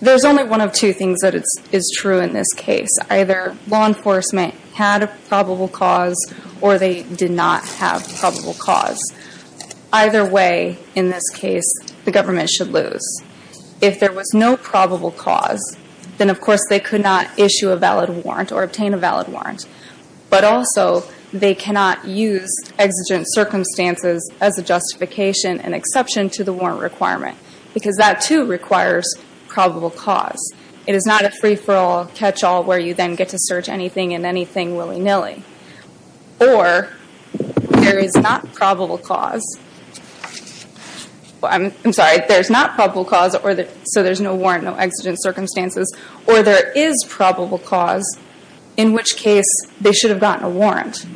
There is only one of two things that is true in this case. Either law enforcement had a probable cause or they did not have a probable cause. Either way, in this case, the government should lose. If there was no probable cause, then of course they could not issue a valid warrant or obtain a valid warrant. But also, they cannot use exigent circumstances as a exception to the warrant requirement, because that too requires probable cause. It is not a free-for-all catch-all where you then get to search anything and anything willy-nilly. Or, there is not probable cause, I'm sorry, there is not probable cause, so there is no warrant, no exigent circumstances. Or there is probable cause, in which case they should have gotten a warrant.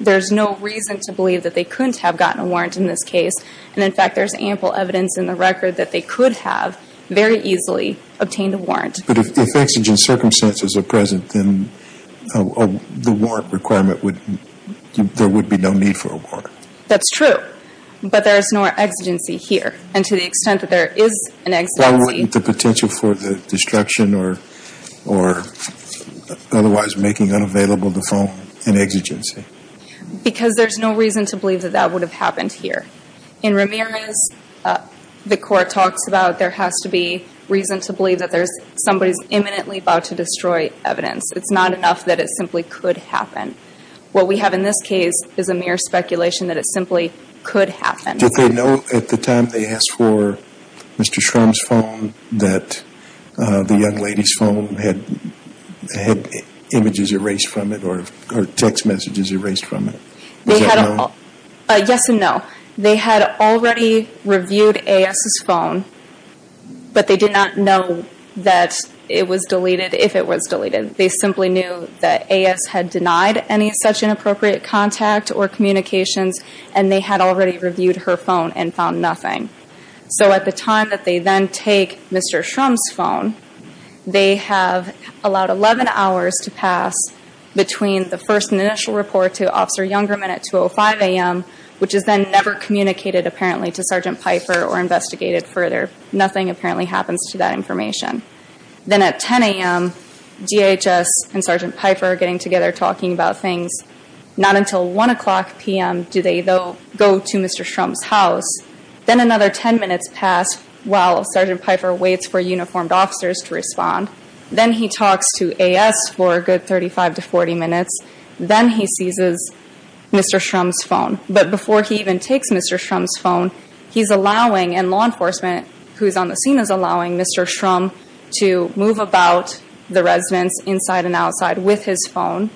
There is no reason to believe that they couldn't have gotten a warrant in this case. And in fact, there is ample evidence in the record that they could have very easily obtained a warrant. But if exigent circumstances are present, then the warrant requirement would, there would be no need for a warrant. That's true. But there is no exigency here. And to the extent that there is an exigency Why wouldn't the potential for the destruction or otherwise making unavailable the phone an exigency? Because there is no reason to believe that that would have happened here. In Ramirez, the court talks about there has to be reason to believe that there is, somebody is imminently about to destroy evidence. It's not enough that it simply could happen. What we have in this case is a mere speculation that it simply could happen. Did they know at the time they asked for Mr. Shrum's phone that the young lady's phone had images erased from it or text messages erased from it? Yes and no. They had already reviewed A.S.'s phone, but they did not know that it was deleted, if it was deleted. They simply knew that A.S. had denied any such inappropriate contact or communications and they had already reviewed her phone and found nothing. So at the time that they then take Mr. Shrum's phone, they have allowed 11 hours to pass between the first initial report to Officer Youngerman at 2.05 a.m., which is then never communicated apparently to Sergeant Piper or investigated further. Nothing apparently happens to that information. Then at 10 a.m., DHS and Sergeant Piper getting together talking about things. Not until 1 o'clock p.m. do they go to Mr. Shrum's house. Then another 10 minutes pass while Sergeant Piper waits for uniformed officers to respond. Then he talks to A.S. for a good 35 to 40 minutes. Then he seizes Mr. Shrum's phone. But before he even takes Mr. Shrum's phone, he's allowing, and law enforcement who is on the scene is allowing, Mr. Shrum to move about the residence inside and outside with his phone,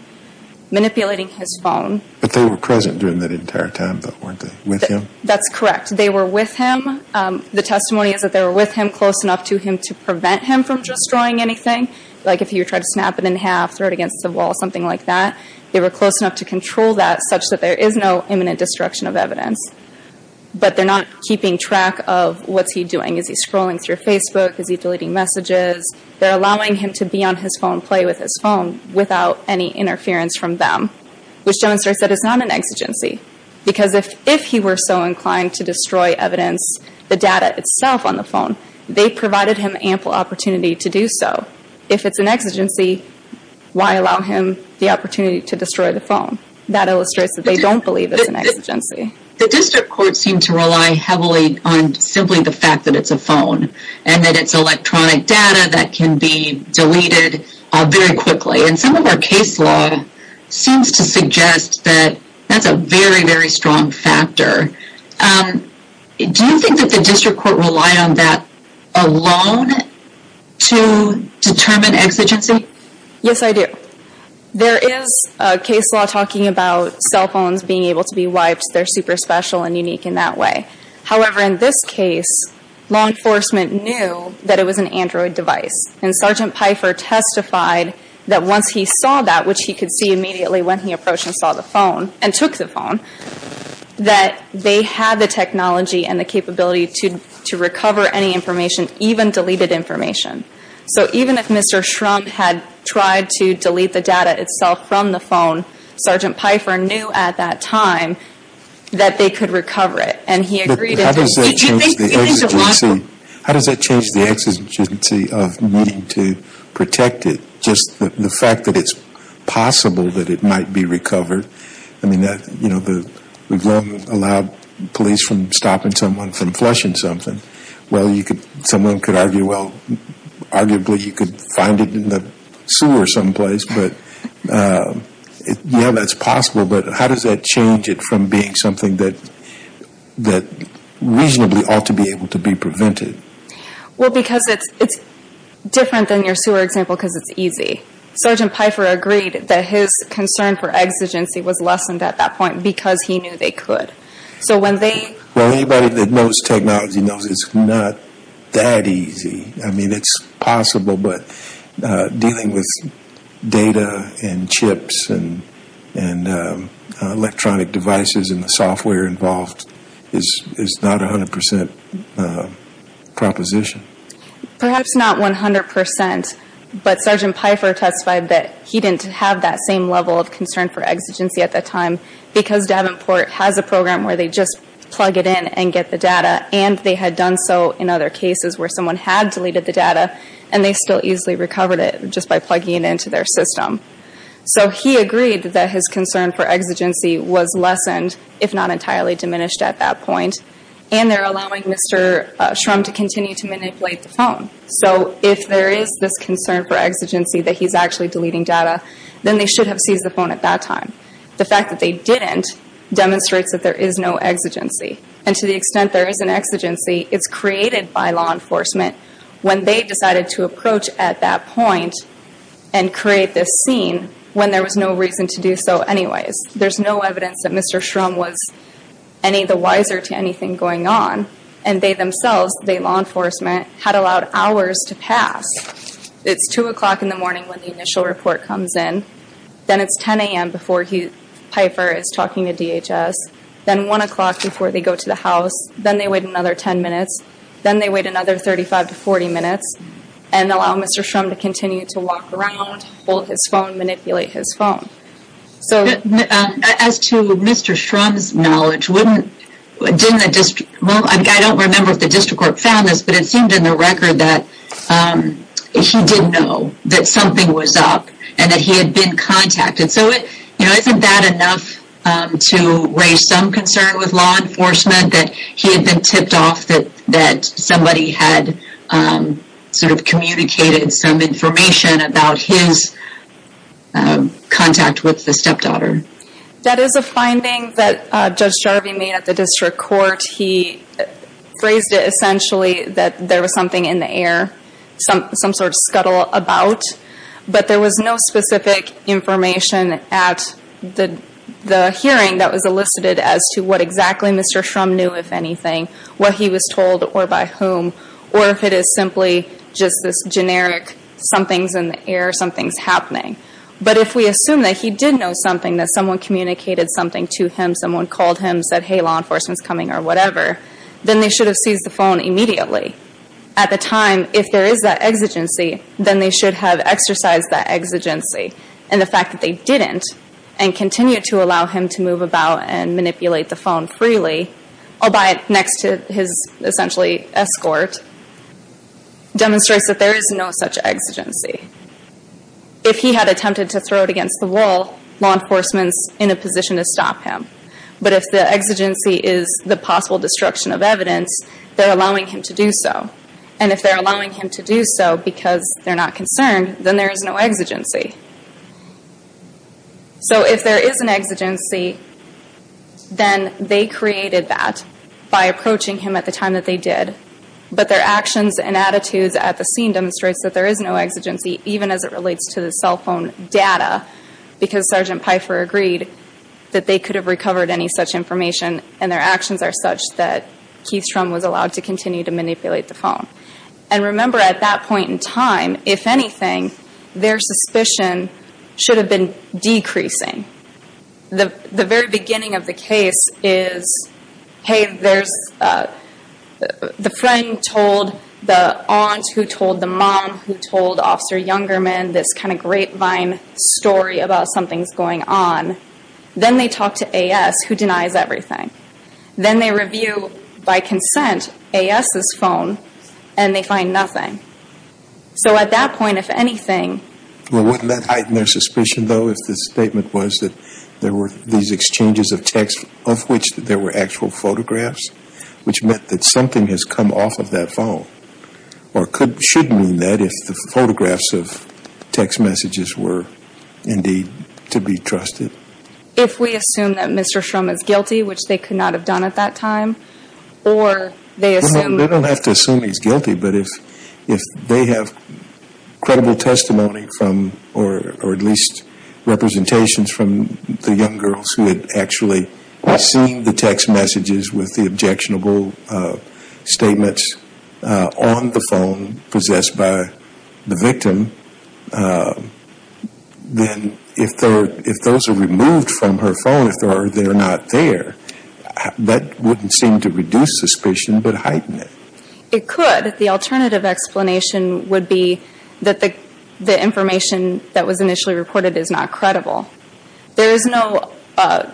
manipulating his phone. But they were present during that entire time though, weren't they? With him? That's correct. They were with him. The testimony is that they were with him close enough to him to prevent him from destroying anything. Like if he were to try to snap it in half, throw it against the wall, something like that. They were close enough to control that such that there is no imminent destruction of evidence. But they're not keeping track of what's he doing. Is he scrolling through Facebook? Is he deleting messages? They're allowing him to be on his phone, play with his phone without any interference from them. Which demonstrates that it's not an exigency. Because if he were so inclined to destroy evidence, the data itself on the phone, they provided him ample opportunity to do so. If it's an exigency, why allow him the opportunity to destroy the phone? That illustrates that they don't believe it's an exigency. The district courts seem to rely heavily on simply the fact that it's a phone and that it's electronic data that can be deleted very quickly. And some of our case law seems to suggest that that's a very, very strong factor. Do you think that the district court rely on that alone to determine exigency? Yes, I do. There is case law talking about cell phones being able to be wiped. They're super special and unique in that way. However, in this case, law enforcement knew that it was an Android device. And Sergeant Pfeiffer testified that once he saw that, which he could see immediately when he approached and saw the phone, and took the phone, that they had the technology and the capability to recover any information, even deleted information. So even if Mr. Schrumpf had tried to delete the data itself from the phone, Sergeant Pfeiffer knew at that time that they could recover it. And he agreed. But how does that change the exigency of needing to protect it? Just the fact that it's possible that it might be recovered? I mean, we've long allowed police from stopping someone from flushing something. Well, someone could argue, well, arguably you could find it in Yeah, that's possible. But how does that change it from being something that reasonably ought to be able to be prevented? Well, because it's different than your sewer example because it's easy. Sergeant Pfeiffer agreed that his concern for exigency was lessened at that point because he knew they could. So when they Well, anybody that knows technology knows it's not that easy. I mean, it's possible, but dealing with data and chips and electronic devices and the software involved is not a hundred percent proposition. Perhaps not 100 percent, but Sergeant Pfeiffer testified that he didn't have that same level of concern for exigency at that time because Davenport has a program where they just plug it in and get the data. And they had done so in other cases where someone had deleted the data and they still easily recovered it just by plugging it into their system. So he agreed that his concern for exigency was lessened, if not entirely diminished at that point. And they're allowing Mr. Shrum to continue to manipulate the phone. So if there is this concern for exigency that he's actually deleting data, then they should have seized the phone at that time. The fact that they didn't demonstrates that there is no created by law enforcement when they decided to approach at that point and create this scene when there was no reason to do so anyways. There's no evidence that Mr. Shrum was any the wiser to anything going on. And they themselves, the law enforcement, had allowed hours to pass. It's 2 o'clock in the morning when the initial report comes in. Then it's 10 a.m. before Pfeiffer is talking to DHS. Then 1 o'clock before they go to the house. Then they wait another 10 minutes. Then they wait another 35 to 40 minutes and allow Mr. Shrum to continue to walk around, hold his phone, manipulate his phone. As to Mr. Shrum's knowledge, I don't remember if the district court found this, but it seemed in the record that he didn't know that something was up and that he had been contacted. So isn't that enough to raise some concern with law enforcement that he had been tipped off that somebody had sort of communicated some information about his contact with the stepdaughter? That is a finding that Judge Jarvie made at the district court. He phrased it essentially that there was something in the air, some sort of scuttle about. But there was no specific information at the hearing that was elicited as to what exactly Mr. Shrum knew, if anything, what he was told or by whom, or if it is simply just this generic something's in the air, something's happening. But if we assume that he did know something, that someone communicated something to him, someone called him, said, hey, law enforcement's coming or whatever, then they should have seized the phone immediately. At the time, if there is that exigency, then they should have exercised that exigency. And the fact that they didn't and continued to allow him to move about and manipulate the phone freely, albeit next to his essentially escort, demonstrates that there is no such exigency. If he had attempted to throw it against the wall, law enforcement's in a position to stop him. But if the exigency is the possible destruction of evidence, they're allowing him to do so. And if they're allowing him to do so because they're not concerned, then there is no exigency. So if there is an exigency, then they created that by approaching him at the time that they did. But their actions and attitudes at the scene demonstrates that there is no exigency, even as it relates to the cell phone data, because Sergeant Pfeiffer agreed that they could have recovered any such information and their actions are such that Keith Shrum was allowed to continue to at that point in time, if anything, their suspicion should have been decreasing. The very beginning of the case is, hey, there's the friend told the aunt who told the mom who told Officer Youngerman this kind of grapevine story about something's going on. Then they talk to A.S. who denies everything. Then they review, by consent, A.S.'s phone and they find nothing. So at that point, if anything... Well, wouldn't that heighten their suspicion, though, if the statement was that there were these exchanges of text of which there were actual photographs, which meant that something has come off of that phone? Or could, should mean that if the photographs of text messages were indeed to be trusted? If we assume that Mr. Shrum is guilty, which they could not have done at that time, or they assume... But if they have credible testimony from, or at least representations from the young girls who had actually seen the text messages with the objectionable statements on the phone possessed by the victim, then if those are removed from her phone, if they're not there, that wouldn't seem to reduce suspicion, but heighten it. It could. The alternative explanation would be that the information that was initially reported is not credible. There is no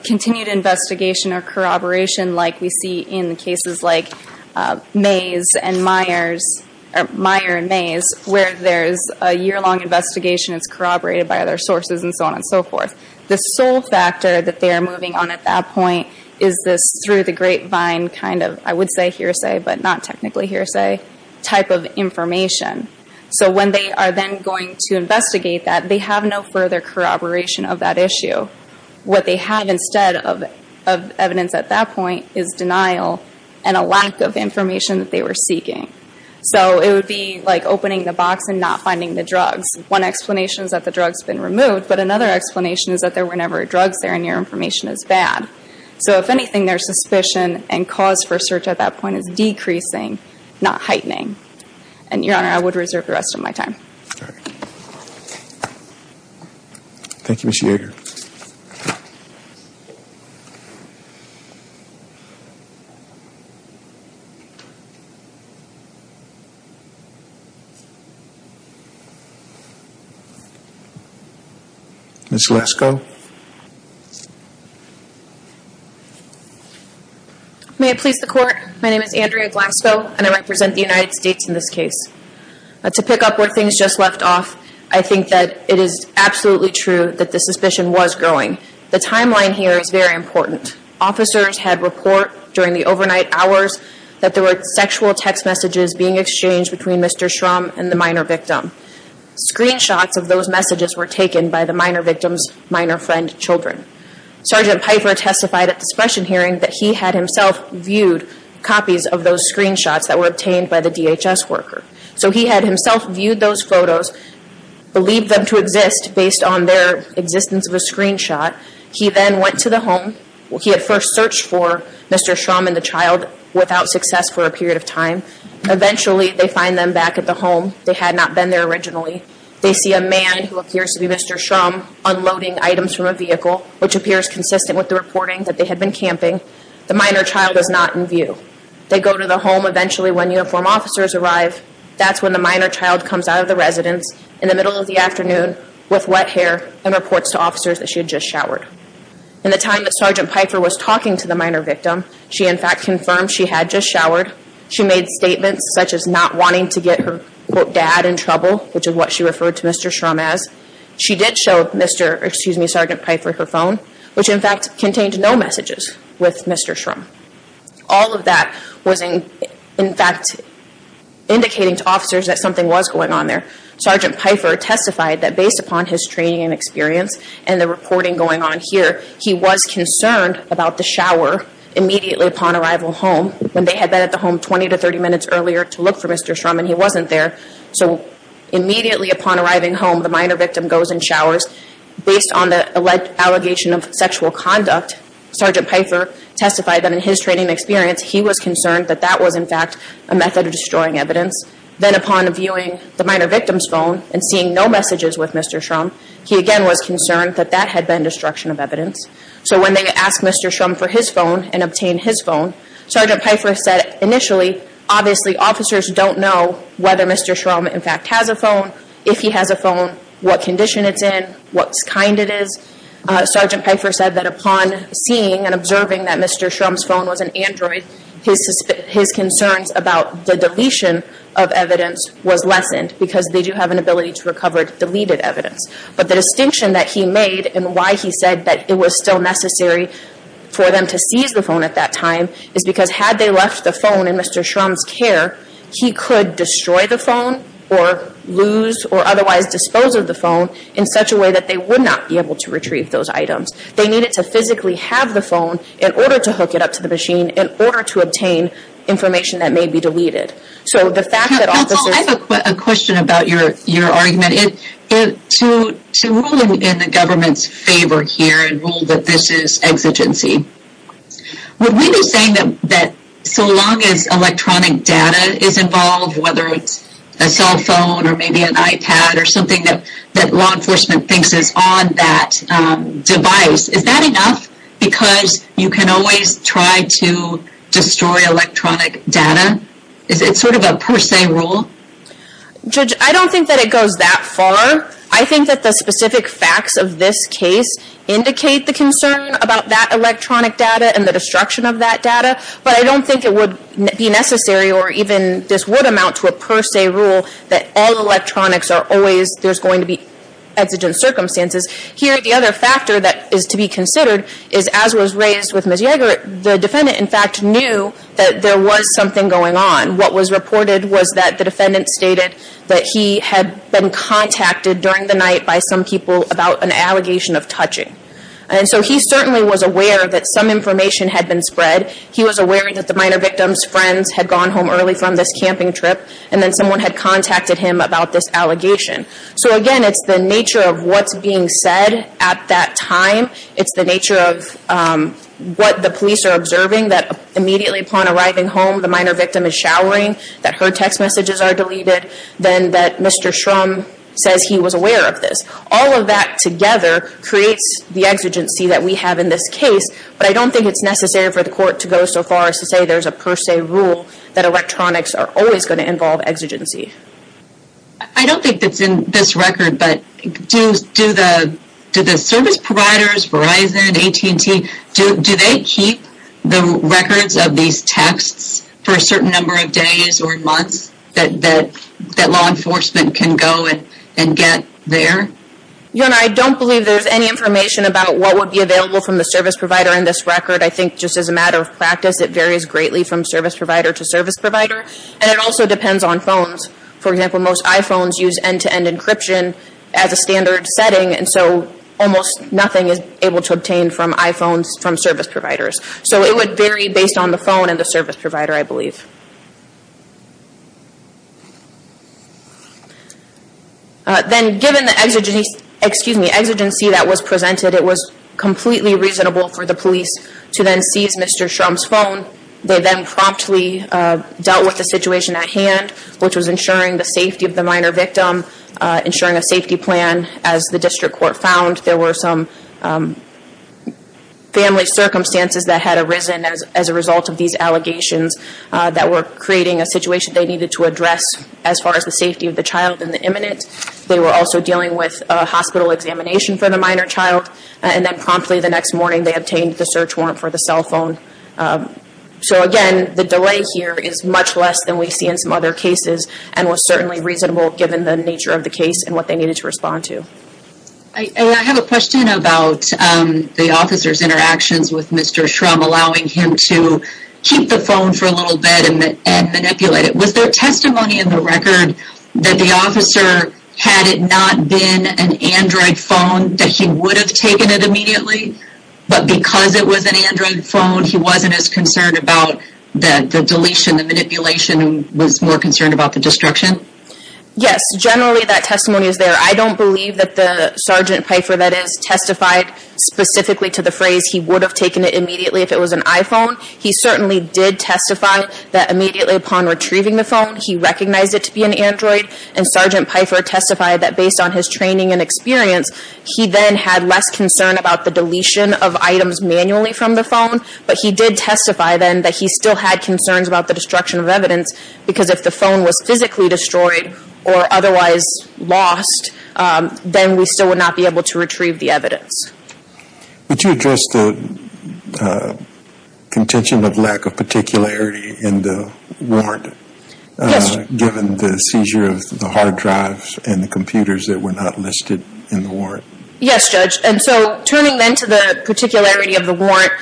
continued investigation or corroboration like we see in cases like Meyer and Mays, where there's a year-long investigation, it's corroborated by other sources, and so on and so forth. The sole factor that they are moving on at that point is this through the grapevine kind of, I would say hearsay, but not technically hearsay, type of information. So when they are then going to investigate that, they have no further corroboration of that issue. What they have instead of evidence at that point is denial and a lack of information that they were seeking. So it would be like opening the box and not finding the drugs. One explanation is that the drug's been removed, but another explanation is that there were never drugs there and your information is bad. So if anything, their suspicion and cause for search at that point is decreasing, not heightening. And Your Honor, I would reserve the rest of my time. Thank you, Ms. Yeager. Ms. Glasco. May it please the Court, my name is Andrea Glasco, and I represent the United States in this case. To pick up where things just left off, I think that it is absolutely true that the suspicion was growing. The timeline here is very important. Officers had report during the overnight hours that there were sexual text messages being exchanged between Mr. Shrum and the minor victim. Screenshots of those messages were taken by the minor victim's minor friend children. Sgt. Piper testified at the suppression hearing that he had himself viewed copies of those screenshots that were obtained by the DHS worker. So he had himself viewed those photos, believed them to exist based on their existence of a screenshot. He then went to the home. He had first searched for Mr. Shrum and the child without success for a period of time. Eventually, they find them back at the home. They had Mr. Shrum unloading items from a vehicle, which appears consistent with the reporting that they had been camping. The minor child is not in view. They go to the home eventually when uniformed officers arrive. That's when the minor child comes out of the residence in the middle of the afternoon with wet hair and reports to officers that she had just showered. In the time that Sgt. Piper was talking to the minor victim, she in fact confirmed she had just showered. She made statements such as not wanting to get her dad in trouble, which is what she referred to Mr. Shrum as. She did show Sgt. Piper her phone, which in fact contained no messages with Mr. Shrum. All of that was in fact indicating to officers that something was going on there. Sgt. Piper testified that based upon his training and experience and the reporting going on here, he was concerned about the shower immediately upon arrival home when they had been at the home 20 to 30 minutes earlier to look for Mr. Shrum and he wasn't there. So immediately upon arriving home, the minor victim goes and showers. Based on the alleged allegation of sexual conduct, Sgt. Piper testified that in his training and experience, he was concerned that that was in fact a method of destroying evidence. Then upon viewing the minor victim's phone and seeing no messages with Mr. Shrum, he again was concerned that that had been destruction of evidence. So when they asked Mr. Shrum for his phone and obtained his phone, Sgt. Piper said initially, obviously officers don't know whether Mr. Shrum in fact has a phone, if he has a phone, what condition it's in, what kind it is. Sgt. Piper said that upon seeing and observing that Mr. Shrum's phone was an Android, his concerns about the deletion of evidence was lessened because they do have an ability to recover deleted evidence. But the distinction that he made and why he said that it was still necessary for them to seize the phone at that time is because had they left the phone in Mr. Shrum's care, he could destroy the phone or lose or otherwise dispose of the phone in such a way that they would not be able to retrieve those items. They needed to physically have the phone in order to hook it up to the machine, in order to obtain information that may be deleted. So the fact that officers... I have a question about your argument. To rule in the government's favor here and rule that this is exigency, would we be saying that so long as electronic data is involved, whether it's a cell phone or maybe an iPad or something that law enforcement thinks is on that device, is that enough? Because you can always try to destroy electronic data. Is it sort of a per se rule? Judge, I don't think that it goes that far. I think that the specific facts of this case indicate the concern about that electronic data and the destruction of that data. But I don't think it would be necessary or even this would amount to a per se rule that all electronics are always... there's going to be exigent circumstances. Here, the other factor that is to be considered is as was raised with Ms. Yeager, the defendant in fact knew that there was something going on. What was reported was that the defendant stated that he had been contacted during the night by some people about an allegation of touching. And so he certainly was aware that some information had been spread. He was aware that the minor victim's friends had gone home early from this camping trip and then someone had contacted him about this allegation. So again, it's the nature of what's being said at that time. It's the nature of what the police are observing that immediately upon arriving home, the minor victim is showering, that her text messages are deleted, then that Mr. Shrum says he was aware of this. All of that together creates the exigency that we have in this case. But I don't think it's necessary for the court to go so far as to say there's a per se rule that electronics are always going to involve exigency. I don't think that's in this record, but do the service providers, Verizon, AT&T, do they keep the records of these texts for a certain number of days or months that law enforcement can go and get there? Your Honor, I don't believe there's any information about what would be available from the service provider in this record. I think just as a matter of practice, it varies greatly from service provider to service provider. And it also depends on phones. For example, most almost nothing is able to obtain from iPhones from service providers. So it would vary based on the phone and the service provider, I believe. Then given the exigency that was presented, it was completely reasonable for the police to then seize Mr. Shrum's phone. They then promptly dealt with the situation at hand, which was ensuring the safety of the minor victim, ensuring a safety plan. As the district court found, there were some family circumstances that had arisen as a result of these allegations that were creating a situation they needed to address as far as the safety of the child and the imminent. They were also dealing with a hospital examination for the minor child. And then promptly the next morning, they obtained the search warrant for the cell phone. So again, the delay here is much less than we see in some other cases and was certainly reasonable given the nature of the case and what they needed to respond to. I have a question about the officer's interactions with Mr. Shrum, allowing him to keep the phone for a little bit and manipulate it. Was there testimony in the record that the officer, had it not been an Android phone, that he would have taken it immediately? But because it was an Android phone, he wasn't as concerned about the deletion, the manipulation, was more concerned about the destruction? Yes, generally that testimony is there. I don't believe that the Sgt. Pfeiffer that is testified specifically to the phrase, he would have taken it immediately if it was an iPhone. He certainly did testify that immediately upon retrieving the phone, he recognized it to be an Android. And Sgt. Pfeiffer testified that based on his training and experience, he then had less concern about the deletion of items manually from the phone, but he did testify then that he still had concerns about the destruction of evidence because if the phone was physically destroyed or otherwise lost, then we still would not be able to retrieve the evidence. Would you address the contention of lack of particularity in the warrant? Yes. Given the seizure of the hard drives and the computers that were not listed in the warrant? Yes, Judge. And so turning then to the particularity of the warrant,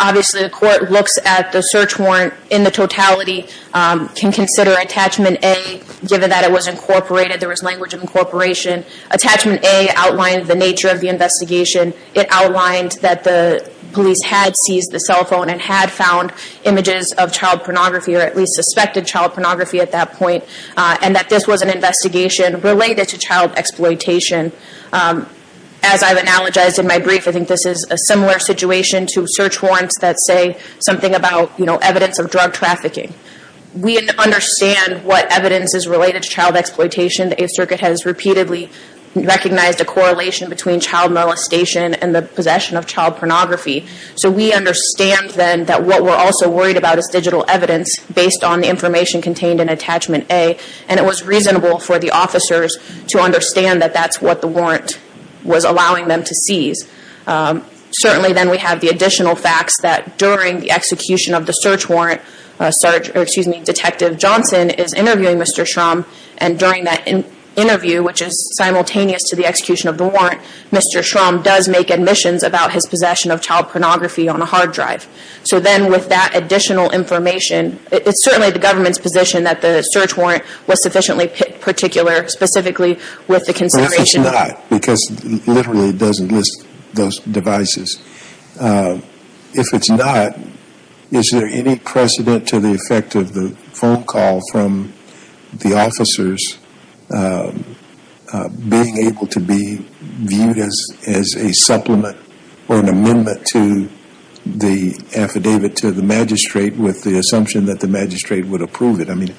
obviously the court looks at the search warrant in the totality, can consider Attachment A, given that it was incorporated, there was language of incorporation. Attachment A outlined the nature of the investigation. It outlined that the police had seized the cell phone and had found images of child pornography or at least suspected child pornography at that point, and that this was an investigation related to child exploitation. As I've analogized in my brief, I think this is a similar situation to search warrants that say something about evidence of drug trafficking. We understand what evidence is related to child exploitation. The Eighth Circuit has repeatedly recognized a correlation between child molestation and the possession of child pornography. So we understand then that what we're also worried about is digital evidence based on the information contained in Attachment A, and it was reasonable for the officers to understand that that's what the warrant was allowing them to seize. Certainly then we have the additional facts that during the execution of the search warrant, Detective Johnson is interviewing Mr. Shrum, and during that interview, which is simultaneous to the execution of the warrant, Mr. Shrum does make admissions about his possession of child pornography on a hard drive. So then with that additional information, it's certainly the government's position that the search warrant was sufficiently particular, specifically with the consideration... But if it's not, because literally it doesn't list those devices, if it's not, is there any precedent to the effect of the phone call from the officers being able to be viewed as a supplement or an amendment to the affidavit to the magistrate with the assumption that the magistrate would approve it? I mean,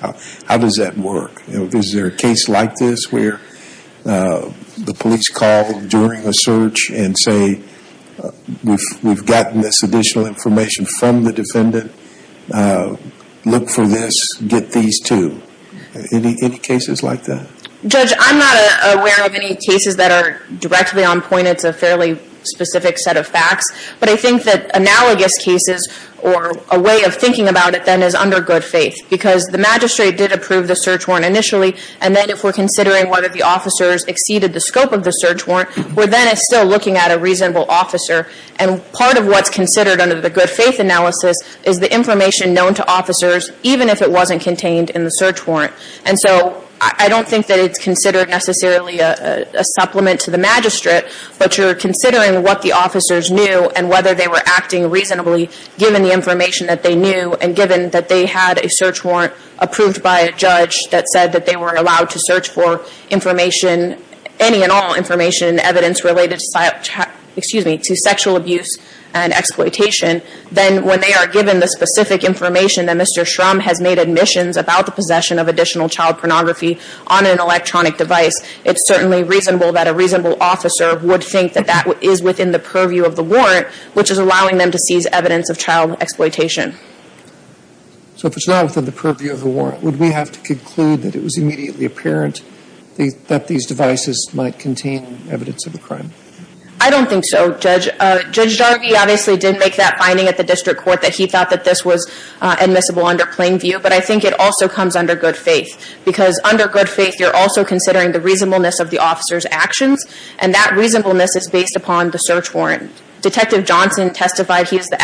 how does that work? Is there a case like this where the police call during a search and say, we've gotten this additional information from the defendant, look for this, get these too. Any cases like that? Judge, I'm not aware of any cases that are directly on point. It's a fairly specific set of facts, but I think that analogous cases or a way of thinking about it then is under good faith, because the magistrate did approve the search warrant initially, and then if we're considering whether the officers exceeded the scope of the search warrant, we're then still looking at a reasonable officer. And part of what's considered under the good faith analysis is the information known to officers, even if it wasn't contained in the search warrant. And so I don't think that it's considered necessarily a supplement to the magistrate, but you're considering what the officers knew and whether they were acting reasonably given the information that they knew, and given that they had a search warrant approved by a judge that said that they were allowed to search for information, any and all information and evidence related to sexual abuse and exploitation, then when they are given the specific information that Mr. Shrum has made admissions about the possession of additional child pornography on an electronic device, it's certainly reasonable that a reasonable officer would think that that is within the purview of the warrant, which is allowing them to seize evidence of child exploitation. So if it's not within the purview of the warrant, would we have to conclude that it was immediately apparent that these devices might contain evidence of a crime? I don't think so, Judge. Judge Jarvie obviously did make that finding at the district court that he thought that this was admissible under plain view, but I think it also comes under good faith, because under good faith you're also considering the reasonableness of the officer's actions, and that reasonableness is based upon the search warrant. Detective Johnson testified he is the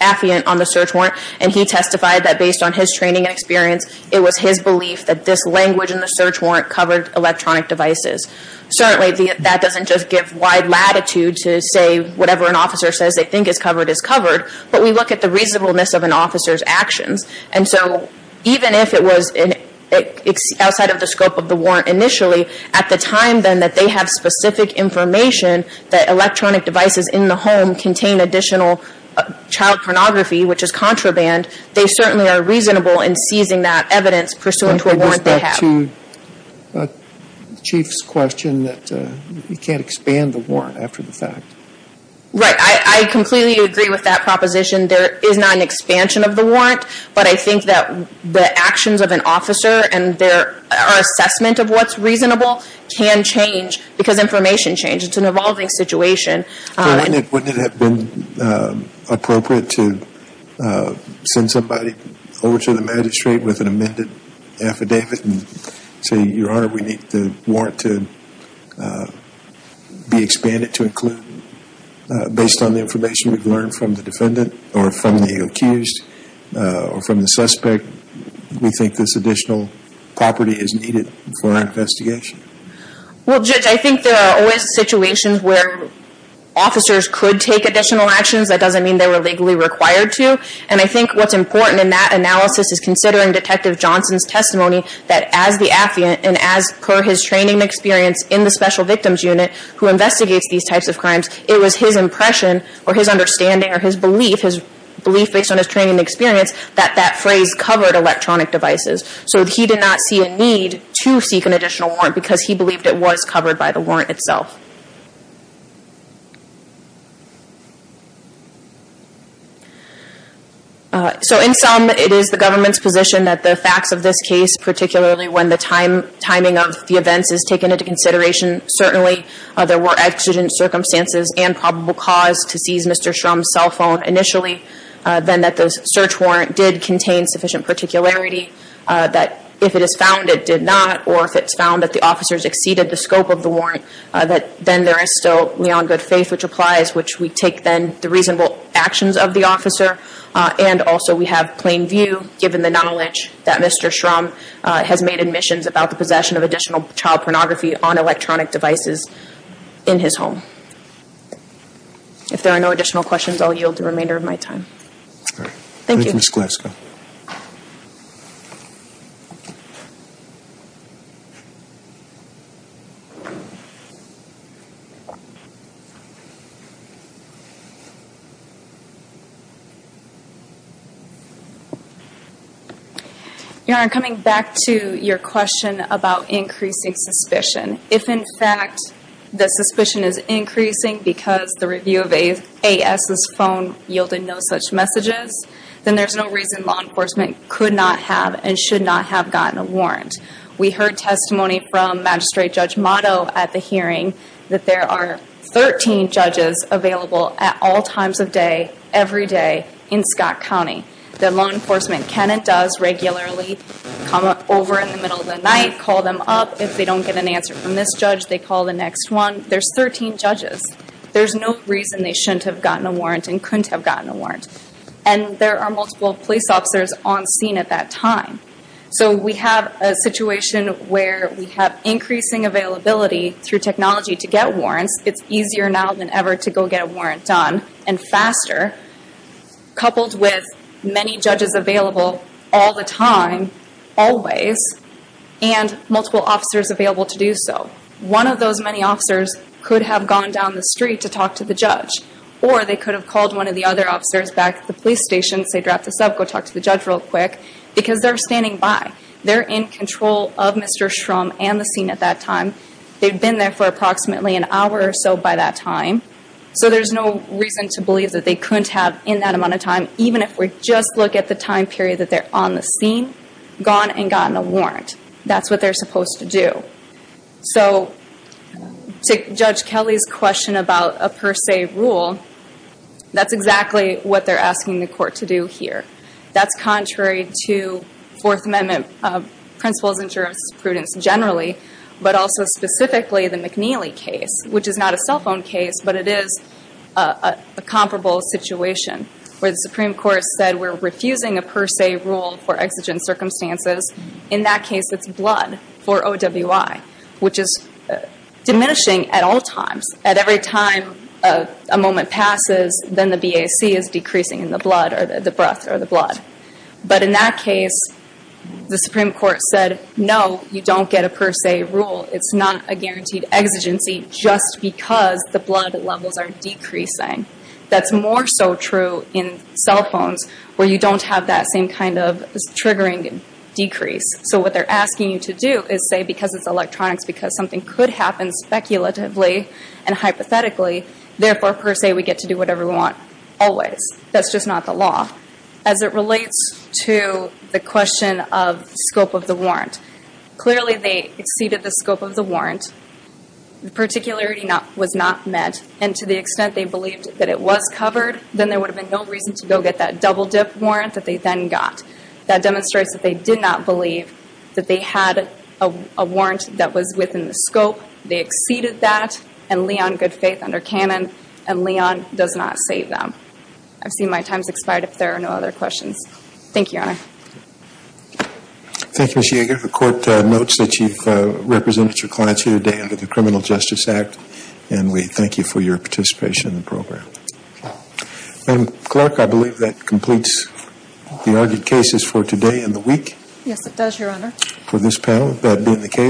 affiant on the search warrant, and he testified that based on his training and experience, it was his belief that this language in the search warrant covered electronic devices. Certainly that doesn't just give wide latitude to say whatever an officer says they think is covered is covered, but we look at the reasonableness of an officer's actions, and so even if it was outside of the scope of the warrant initially, at the time then that they have specific information that electronic devices in the home contain additional child pornography, which is contraband, they certainly are reasonable in seizing that Chief's question that you can't expand the warrant after the fact. Right. I completely agree with that proposition. There is not an expansion of the warrant, but I think that the actions of an officer and their assessment of what's reasonable can change, because information changes. It's an evolving situation. Wouldn't it have been appropriate to send somebody over to the magistrate with an amended affidavit and say, Your Honor, we need the warrant to be expanded to include, based on the information we've learned from the defendant, or from the accused, or from the suspect, we think this additional property is needed for our investigation? Well, Judge, I think there are always situations where officers could take additional actions. That doesn't mean they were legally required to, and I think what's important in that analysis is considering Detective Johnson's testimony that as the affiant, and as per his training and experience in the Special Victims Unit, who investigates these types of crimes, it was his impression, or his understanding, or his belief, his belief based on his training and experience, that that phrase covered electronic devices. So he did not see a need to seek an additional warrant because he believed it was covered by the warrant itself. So, in sum, it is the government's position that the facts of this case, particularly when the timing of the events is taken into consideration, certainly there were accident circumstances and probable cause to seize Mr. Shrum's cell phone initially, then that the search warrant did contain sufficient particularity, that if it is found, it did not, or if it's found that the officers exceeded the scope of the warrant, that then there is still beyond good faith, which applies, which we take then the reasonable actions of the officer, and also we have plain view given the knowledge that Mr. Shrum has made admissions about the possession of additional child pornography on electronic devices in his home. If there are no additional questions, I'll yield the remainder of my time. Your Honor, coming back to your question about increasing suspicion, if in fact the suspicion is increasing because the review of A.S.'s phone yielded no such messages, then there is a possibility that there was a misuse of the phone. Your Honor, we heard testimony from Magistrate Judge Motto at the hearing that there are 13 judges available at all times of day, every day, in Scott County. The law enforcement can and does regularly come over in the middle of the night, call them up. If they don't get an answer from this judge, they call the next one. There's 13 judges. There's no reason they shouldn't have gotten a warrant and couldn't have gotten a warrant. And there are multiple police officers on scene at that time. So we have a situation where we have increasing availability through technology to get warrants. It's easier now than ever to go get a warrant done and faster, coupled with many judges available all the time, always, and multiple officers available to do so. One of those many officers could have gone down the street to talk to the judge, or they could have called one of the other officers back at the police station, say, drop this off, go talk to the judge real quick, because they're standing by. They're in control of Mr. Shrum and the scene at that time. They've been there for approximately an hour or so by that time. So there's no reason to believe that they couldn't have, in that amount of time, even if we just look at the time period that they're on the scene, gone and gotten a warrant. That's what they're supposed to do. So to Judge Kelly's question about a per se rule, that's exactly what they're asking the court to do here. That's contrary to Fourth Amendment principles and jurisprudence generally, but also specifically the McNeely case, which is not a cell phone case, but it is a comparable situation where the Supreme Court said we're refusing a per se rule for exigent circumstances. In that case, it's blood for OWI, which is diminishing at all times. At every time a moment passes, then the BAC is decreasing in the blood, or the breath, or the blood. But in that case, the Supreme Court said, no, you don't get a per se rule. It's not a guaranteed exigency just because the blood levels are decreasing. That's more so true in cell phones, where you don't have that same kind of triggering decrease. So what they're asking you to do is say, because it's electronics, because something could happen speculatively and hypothetically, therefore, per se, we get to do whatever we want always. That's just not the law. As it relates to the question of scope of the warrant, clearly they exceeded the scope of the warrant. The particularity was not met. And to the extent they believed that it was covered, then there would have been no reason to go get that double-dip warrant that they then got. That demonstrates that they did not believe that they had a warrant that was within the scope. They exceeded that. And Leon, good faith under canon, and Leon does not save them. I've seen my time's expired, if there are no other questions. Thank you, Your Honor. Thank you, Ms. Yeager. The Court notes that you've represented your clients here today to the Criminal Justice Act, and we thank you for your participation in the program. Ma'am Clerk, I believe that completes the argued cases for today and the week. Yes, it does, Your Honor. For this panel, that being the case.